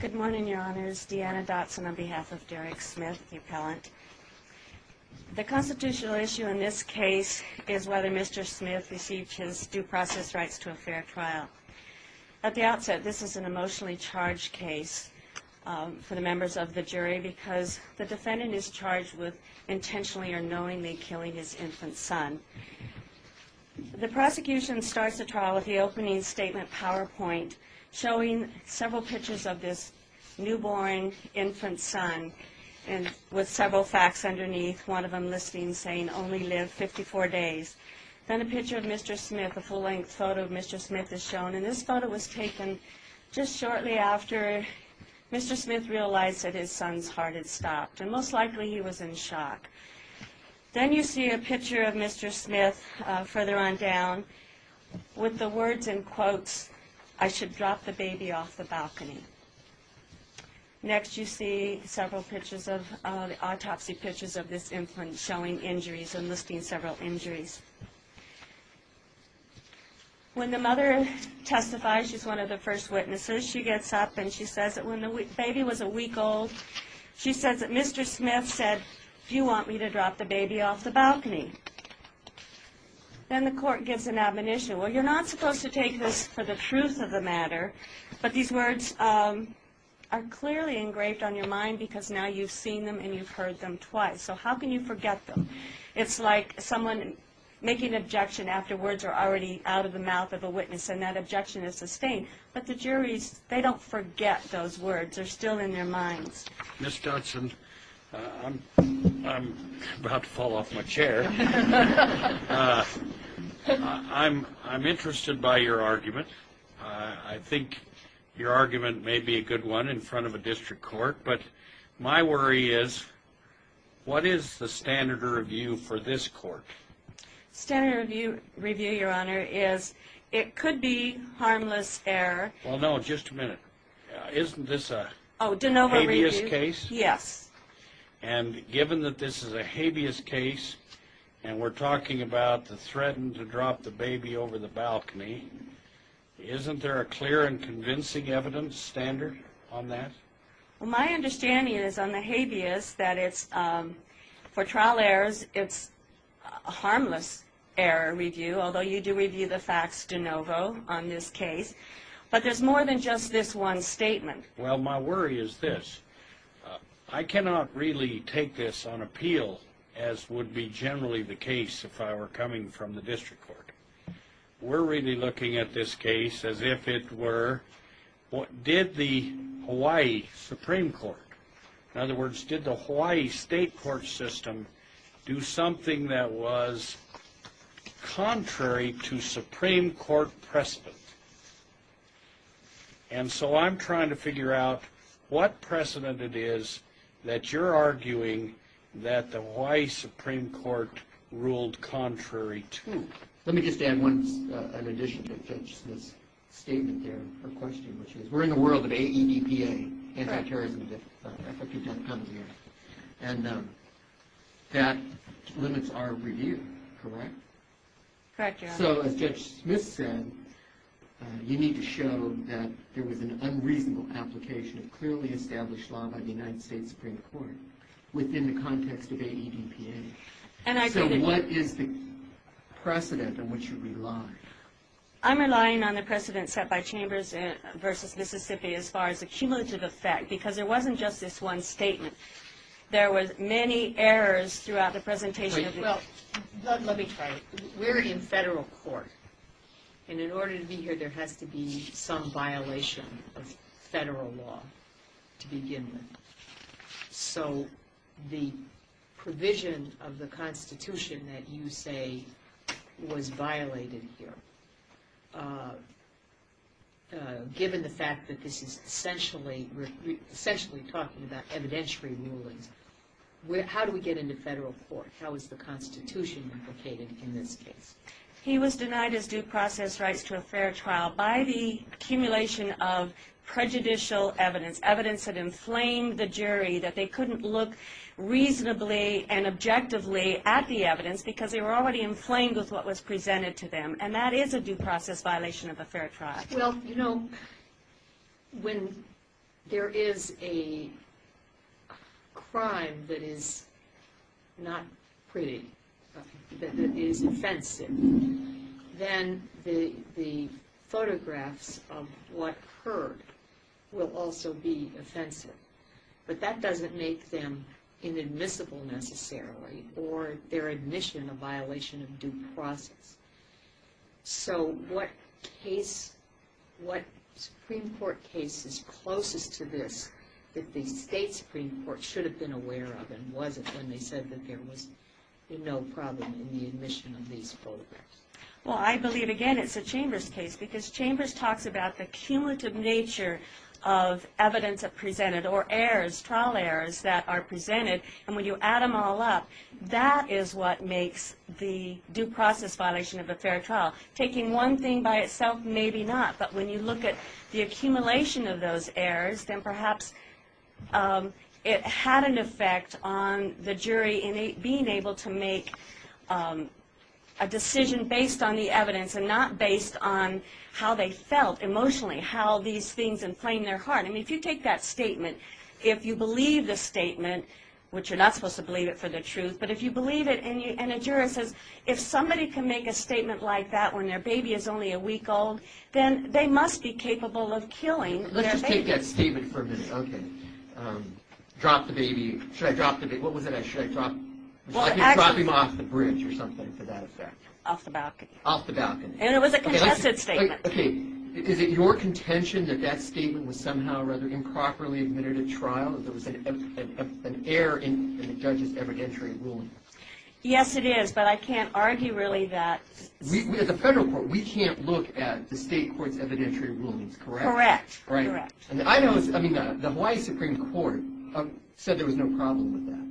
Good morning, Your Honors. Deanna Dotson on behalf of Derek Smith, the appellant. The constitutional issue in this case is whether Mr. Smith received his due process rights to a fair trial. At the outset, this is an emotionally charged case for the members of the jury because the defendant is charged with intentionally or knowingly killing his infant son. The prosecution starts the trial with the opening statement PowerPoint showing several pictures of this newborn infant son with several facts underneath, one of them listing saying only live 54 days. Then a picture of Mr. Smith, a full-length photo of Mr. Smith is shown, and this photo was taken just shortly after Mr. Smith realized that his son's heart had stopped, and most likely he was in shock. Then you see a picture of Mr. Smith further on down with the drop the baby off the balcony. Next you see several pictures of, autopsy pictures of this infant showing injuries and listing several injuries. When the mother testifies, she's one of the first witnesses, she gets up and she says that when the baby was a week old, she says that Mr. Smith said, do you want me to drop the baby off the balcony? Then the court gives an admonition, well you're not supposed to take this for the truth of the matter, but these words are clearly engraved on your mind because now you've seen them and you've heard them twice, so how can you forget them? It's like someone making an objection after words are already out of the mouth of a witness and that objection is sustained, but the juries, they don't forget those words, they're still in their minds. Ms. Dodson, I'm about to fall off my chair. I'm interested by your argument. I think your argument may be a good one in front of a district court, but my worry is what is the standard review for this court? Standard review, your honor, is it could be harmless error. Well no, just a minute. Isn't this a habeas case? Yes. And given that this is a habeas case and we're talking about the threatened to drop the baby over the balcony, isn't there a clear and convincing evidence standard on that? Well my understanding is on the habeas that it's, for trial errors, it's a harmless error review, although you do review the facts de novo on this case, but there's more than just this one statement. Well my worry is this. I cannot really take this on appeal as would be generally the case if I were coming from the district court. We're really looking at this case as if it were, did the Hawaii Supreme Court, in other words, did the Hawaii State Court system do something that was contrary to Supreme Court precedent? And so I'm trying to figure out what you're arguing that the Hawaii Supreme Court ruled contrary to. Let me just add an addition to Judge Smith's statement there, her question, which is we're in the world of AEDPA, anti-terrorism defense, I thought you'd have come here, and that limits our review, correct? Correct, your honor. So as Judge Smith said, you need to show that there was an unreasonable application of clearly established law by the United States Supreme Court within the context of AEDPA. So what is the precedent on which you rely? I'm relying on the precedent set by Chambers versus Mississippi as far as the cumulative effect, because there wasn't just this one statement. There was many errors throughout the presentation. Well, let me try it. We're in federal court, and in order to be here there has to be some violation of the Constitution. So the provision of the Constitution that you say was violated here, given the fact that this is essentially talking about evidentiary rulings, how do we get into federal court? How is the Constitution implicated in this case? He was denied his due process rights to a fair trial by the accumulation of prejudicial evidence. Evidence had inflamed the jury that they couldn't look reasonably and objectively at the evidence because they were already inflamed with what was presented to them, and that is a due process violation of a fair trial. Well, you know, when there is a crime that is not pretty, that is offensive, then the photographs of what hurt will also be offensive. But that doesn't make them inadmissible necessarily, or their admission a violation of due process. So what case, what Supreme Court case is closest to this that the state Supreme Court should have been aware of, and was it when they said that there was no problem in the admission of these photographs? Well, I believe, again, it's a Chambers case because Chambers talks about the cumulative nature of evidence presented, or errors, trial errors that are presented, and when you add them all up, that is what makes the due process violation of a fair trial. Taking one thing by itself, maybe not, but when you look at the accumulation of those errors, then perhaps it had an effect on the jury in being able to make a decision based on the evidence and not based on how they felt emotionally, how these things inflamed their heart. I mean, if you take that statement, if you believe the statement, which you're not supposed to believe it for the truth, but if you believe it and a juror says, if somebody can make a statement like that when their baby is only a week old, then they must be capable of killing their baby. Let's just take that statement for a minute. Okay. Drop the baby. Should I drop the baby? What was it? Should I drop him off the bridge or something for that effect? Off the balcony. Off the balcony. And it was a congested statement. Okay. Is it your contention that that statement was somehow or other improperly admitted at trial, that there was an error in the judge's evidentiary ruling? Yes, it is, but I can't argue really that At the federal court, we can't look at the state court's evidentiary rulings, correct? Correct. Correct. And I know, I mean, the Hawaii Supreme Court said there was no problem with that.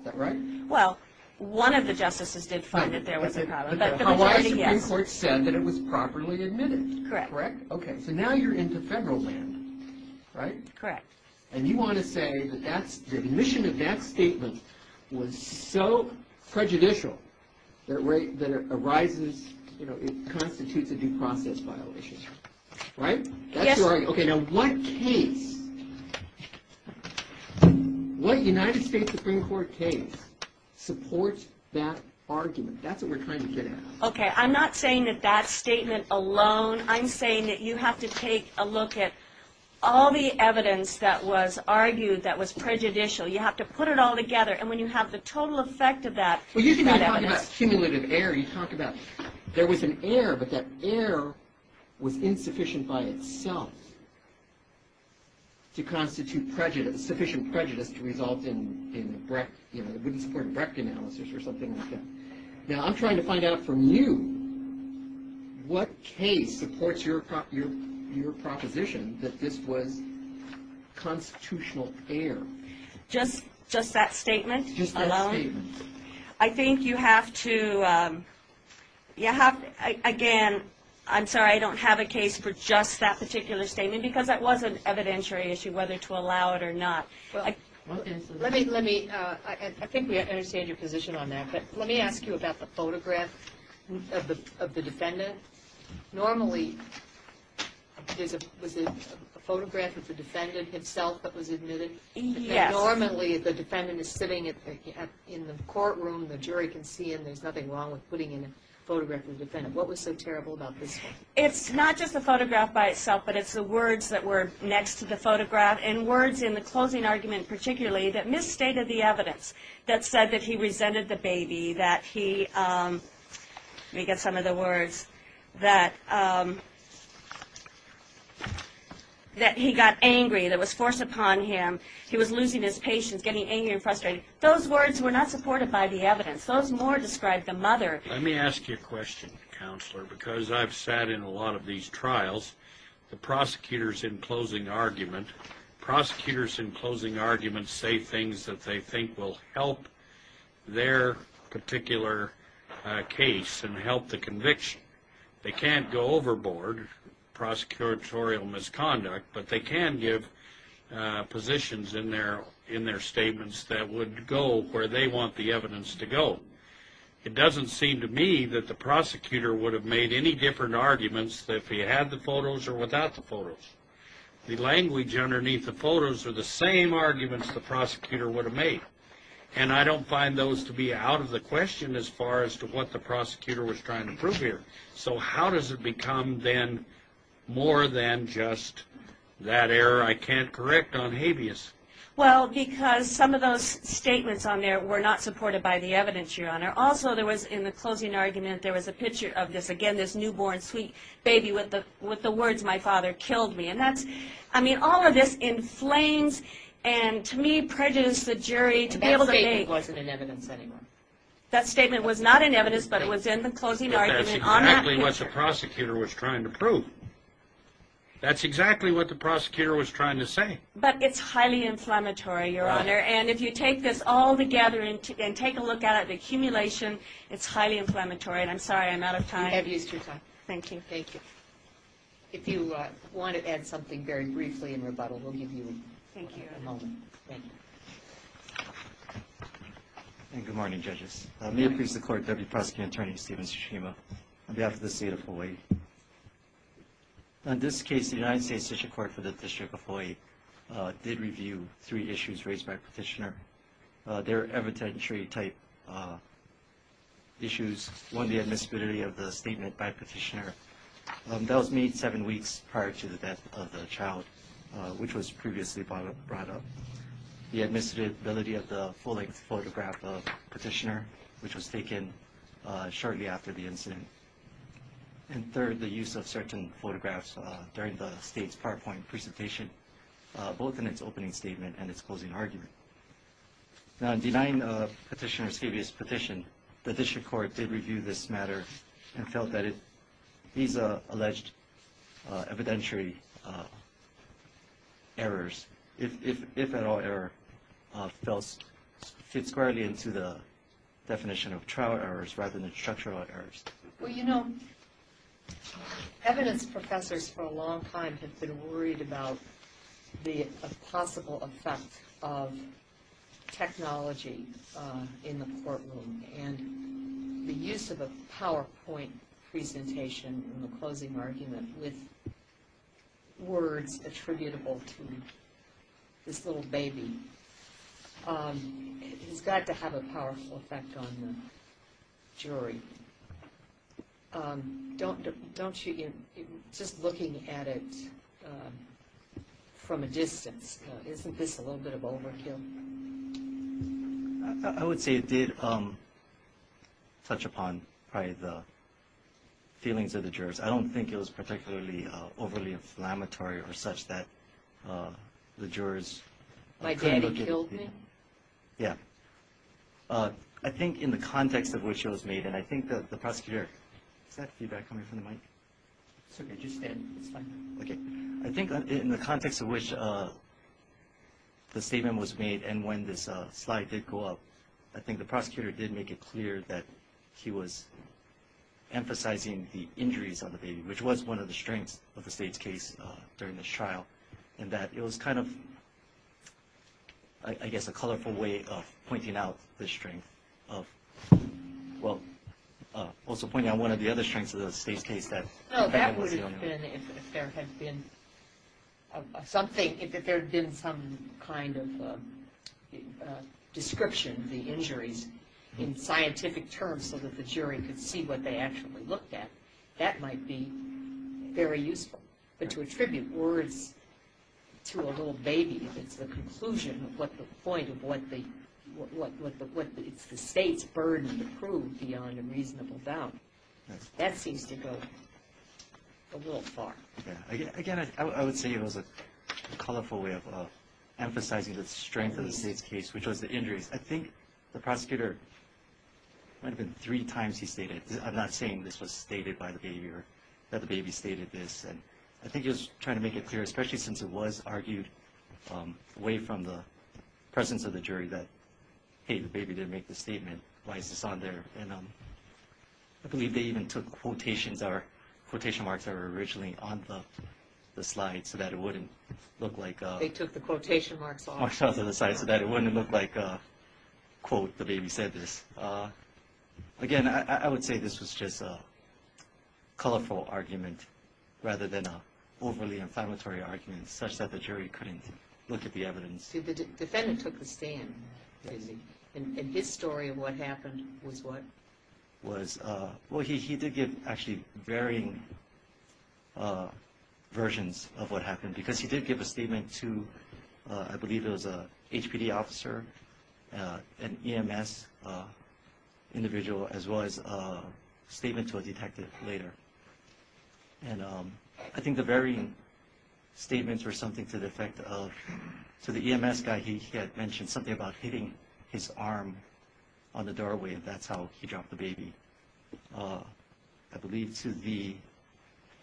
Is that right? Well, one of the justices did find that there was a problem, but the majority, yes. But the Hawaii Supreme Court said that it was properly admitted, correct? Correct. Okay. So now you're into federal land, right? Correct. And you want to say that the admission of that statement was so prejudicial that it arises, you know, it constitutes a due process violation, right? Yes. Okay, now what case, what United States Supreme Court case supports that argument? That's what we're trying to get at. Okay, I'm not saying that that statement alone, I'm saying that you have to take a look at all the evidence that was argued that was prejudicial. You have to put it all together, and when you have the total effect of that, you've got evidence. Well, usually when you talk about cumulative error, you talk about there was an error, but that error was insufficient by itself to constitute sufficient prejudice to result in, you know, it wouldn't support Brecht analysis or something like that. Now, I'm trying to find out from you what case supports your proposition that this was constitutional error? Just that statement alone? Just that statement. I think you have to, again, I'm sorry, I don't have a case for just that particular statement, because that was an evidentiary issue, whether to allow it or not. Let me, I think we understand your position on that, but let me ask you about the photograph of the defendant. Normally was it a photograph of the defendant himself that was admitted? Yes. Normally the defendant is sitting in the courtroom, the jury can see him, there's nothing wrong with putting in a photograph of the defendant. What was so terrible about this one? It's not just a photograph by itself, but it's the words that were next to the photograph, and words in the closing argument particularly, that misstated the evidence, that said that he resented the baby, that he, let me get some of the words, that he got angry, that was forced upon him, he was losing his patience, getting angry and frustrated. Those words were not supported by the evidence. Those more described the mother. Let me ask you a question, counselor, because I've sat in a lot of these trials, the prosecutors in closing argument, prosecutors in closing argument say things that they think will help their particular case and help the conviction. They can't go overboard, prosecutorial misconduct, but they can give positions in their statements that would go where they want the evidence to go. It doesn't seem to me that the arguments, if he had the photos or without the photos, the language underneath the photos are the same arguments the prosecutor would have made. And I don't find those to be out of the question as far as to what the prosecutor was trying to prove here. So how does it become then more than just that error I can't correct on habeas? Well, because some of those statements on there were not supported by the evidence, Your Honor. Also, there was in the closing argument, there was in this newborn sweet baby with the words, my father killed me. And that's, I mean, all of this inflames and to me prejudiced the jury to be able to make... That statement wasn't in evidence anymore. That statement was not in evidence, but it was in the closing argument on that picture. But that's exactly what the prosecutor was trying to prove. That's exactly what the prosecutor was trying to say. But it's highly inflammatory, Your Honor. And if you take this all together and take a look at it, the accumulation, it's No, no, no. Please, you're welcome. Thank you. If you want to add something very briefly in rebuttal, we'll give you a moment. Good morning, judges. May it please the Court, Deputy Prosecuting Attorney Stephen Tsushima, on behalf of the State of Hawaii. In this case, the United States District Court for the District of Hawaii did review three issues raised by Petitioner. They're evidentiary-type issues. One, the admissibility of the statement by Petitioner. That was made seven weeks prior to the death of the child, which was previously brought up. The admissibility of the full-length photograph of Petitioner, which was taken shortly after the use of certain photographs during the State's PowerPoint presentation, both in its opening statement and its closing argument. Now, in denying Petitioner's previous petition, the District Court did review this matter and felt that these alleged evidentiary errors, if at all error, fits squarely into the definition of trial errors rather than structural errors. Well, you know, evidence professors for a long time have been worried about the possible effect of technology in the courtroom, and the use of a PowerPoint presentation in the closing argument with words attributable to this little baby has got to have a powerful effect on the case. Don't you get, just looking at it from a distance, isn't this a little bit of overkill? I would say it did touch upon probably the feelings of the jurors. I don't think it was particularly overly inflammatory or such that the jurors couldn't look at it. I think in the context of which it was made, and I think the prosecutor I think in the context of which the statement was made and when this slide did go up, I think the prosecutor did make it clear that he was emphasizing the injuries of the baby, which was one of the strengths of the State's case during this trial, in that it was kind of I guess a colorful way of pointing out the strength of, well, also pointing out one of the other strengths of the State's case. If there had been something, if there had been some kind of description of the injuries in scientific terms so that the jury could see what they actually looked at that might be very useful, but to attribute words to a little baby, if it's the conclusion of what the point of what the State's burden to prove beyond a reasonable doubt, that seems to go a little far. Again, I would say it was a colorful way of emphasizing the strength of the State's case, which was the injuries. I think the prosecutor, it might have been three times he stated I'm not saying this was stated by the baby or that the baby stated this and I think he was trying to make it clear, especially since it was argued away from the presence of the jury that, hey, the baby didn't make this statement, why is this on there? And I believe they even took quotations or quotation marks that were originally on the slide so that it wouldn't look like... They took the quotation marks off. So that it wouldn't look like, quote, the baby said this. Again, I would say this was just a colorful argument rather than an overly inflammatory argument, such that the jury couldn't look at the evidence. The defendant took the stand, and his story of what happened was what? Well, he did give actually varying versions of what happened because he did give a statement to, I believe it was an HPD officer, an EMS individual as well as a statement to a detective later. And I think the varying statements were something to the effect of, to the EMS guy, he had mentioned something about hitting his arm on the doorway and that's how he dropped the baby. I believe to the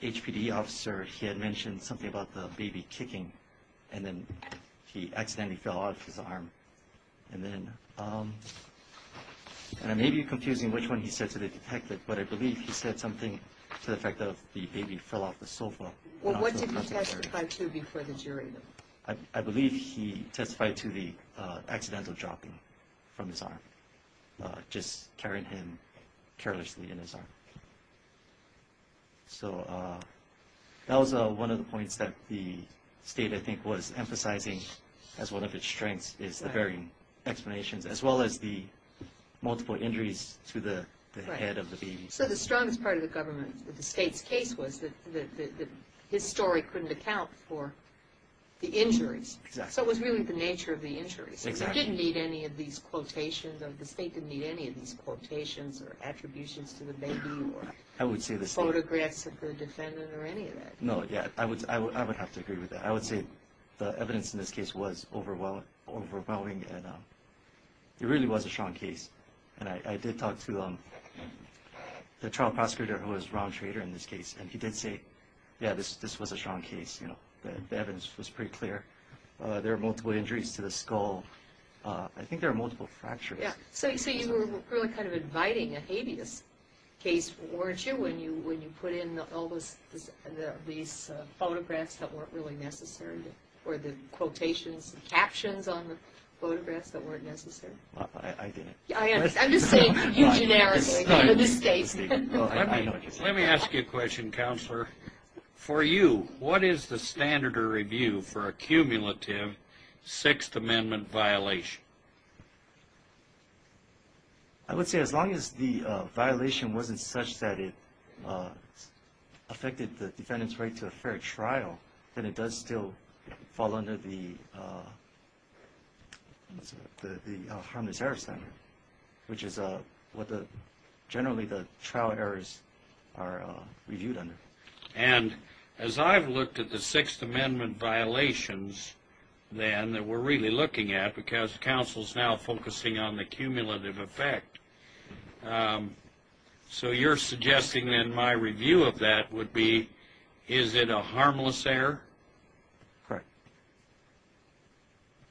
HPD officer he had mentioned something about the baby kicking and then he accidentally fell off his arm. And then, and it may be confusing which one he said to the detective, but I believe he said something to the effect of the baby fell off the sofa. Well, what did he testify to before the jury? I believe he testified to the accidental dropping from his arm, just carrying him carelessly in his arm. That was one of the points that the state, I think, was emphasizing as one of its strengths is the varying explanations as well as the multiple injuries to the head of the baby. So the strongest part of the state's case was that his story couldn't account for the injuries. So it was really the nature of the injuries. It didn't need any of these quotations, the state didn't need any of these quotations or attributions to the baby or photographs of the defendant or any of that. No, yeah, I would have to agree with that. I would say the evidence in this case was overwhelming and it really was a strong case. And I did talk to the trial prosecutor who was round trader in this case and he did say, yeah, this was a strong case. The evidence was pretty clear. There were multiple injuries to the skull. I think there were multiple fractures. So you were really kind of inviting a habeas case, weren't you, when you put in all these photographs that weren't really necessary or the quotations and captions on the photographs that weren't necessary? I didn't. I'm just saying you generically. Let me ask you a question, Counselor. For you, what is the standard of review for a cumulative Sixth Amendment violation? I would say as long as the violation wasn't such that it affected the defendant's right to a fair trial, then it does still fall under the harmless error standard, which is what generally the trial errors are reviewed under. And as I've looked at the Sixth Amendment violations then that we're really looking at, because Counsel's now focusing on the cumulative effect, so you're suggesting then my review of that would be, is it a harmless error? Correct.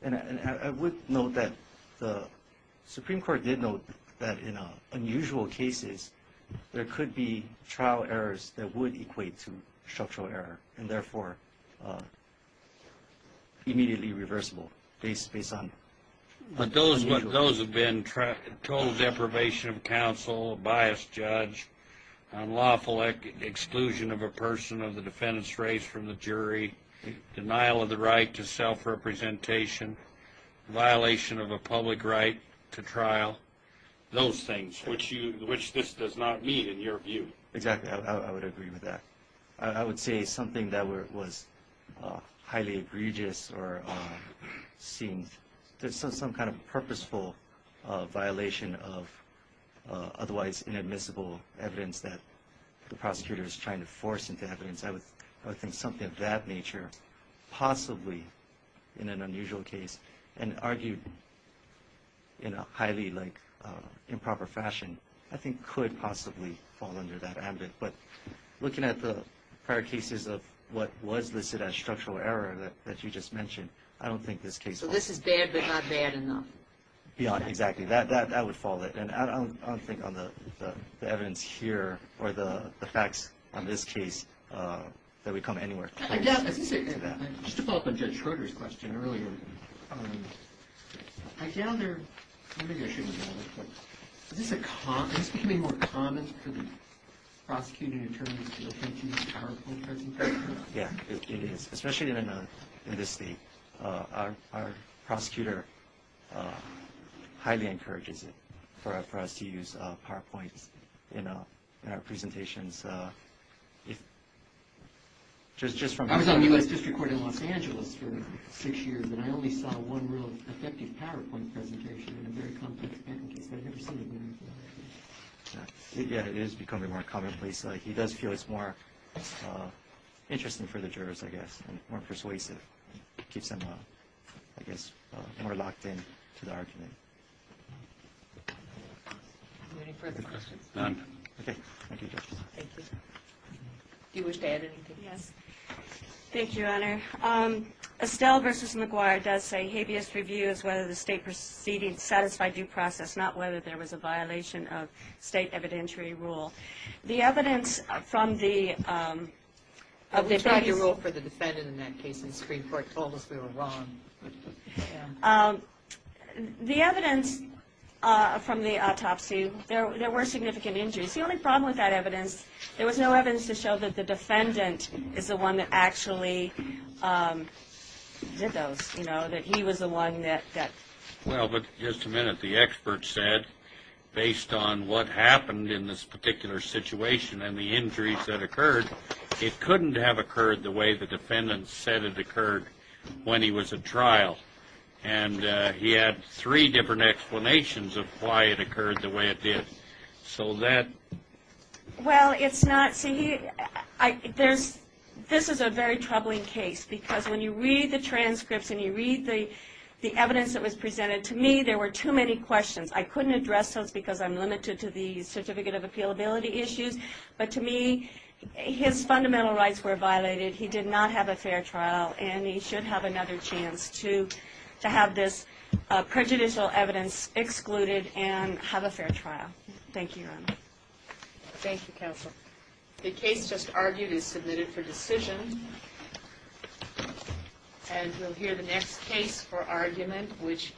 And I would note that the Supreme Court did note that in unusual cases, there could be trial errors that would equate to structural error, and therefore immediately reversible based on... But those have been total deprivation of counsel, biased judge, unlawful exclusion of a person of the defendant's race from the jury, denial of the right to self-representation, violation of a public right to trial, those things, which this does not meet in your view. Exactly. I would agree with that. I would say something that was highly egregious or seen as some kind of purposeful violation of otherwise inadmissible evidence that the prosecutor is trying to force into evidence, I would think something of that nature, possibly in an unusual case and argued in a highly improper fashion, I think could possibly fall under that ambit. But looking at the prior cases of what was listed as I don't think this case... So this is bad, but not bad enough. Exactly. That would fall. And I don't think on the evidence here or the facts on this case that would come anywhere close to that. Just to follow up on Judge Schroeder's question earlier, I gather... Is this becoming more common for the prosecuting attorneys to appreciate powerful presentations? Yeah, it is. Especially in this state. Our prosecutor highly encourages it for us to use PowerPoints in our presentations. I was on the U.S. District Court in Los Angeles for six years and I only saw one real effective PowerPoint presentation in a very complex patent case that I've never seen. Yeah, it is becoming more commonplace. He does feel that's more interesting for the jurors, I guess, and more persuasive. Keeps them, I guess, more locked in to the argument. Any further questions? None. Okay. Thank you, Judge. Do you wish to add anything? Yes. Thank you, Honor. Estelle v. McGuire does say habeas review is whether the state proceeding satisfied due process, not whether there was a violation of state evidentiary rule. The evidence from the... You wrote for the defendant in that case and the Supreme Court told us we were wrong. The evidence from the autopsy, there were significant injuries. The only problem with that evidence, there was no evidence to show that the defendant is the one that actually did those. You know, that he was the one that... Well, but just a minute. The expert said, based on what happened in this particular situation and the injuries that occurred, it couldn't have occurred the way the defendant said it occurred when he was at trial. And he had three different explanations of why it occurred the way it did. So that... Well, it's not... This is a very troubling case because when you read the transcripts and you read the evidence that was presented, to me, there were too many questions. I couldn't address those because I'm limited to the certificate of appealability issues, but to me, his fundamental rights were violated. He did not have a fair trial and he should have another chance to have this prejudicial evidence excluded and have a fair trial. Thank you, Your Honor. The case just argued is submitted for decision. And we'll hear the next case for argument, which is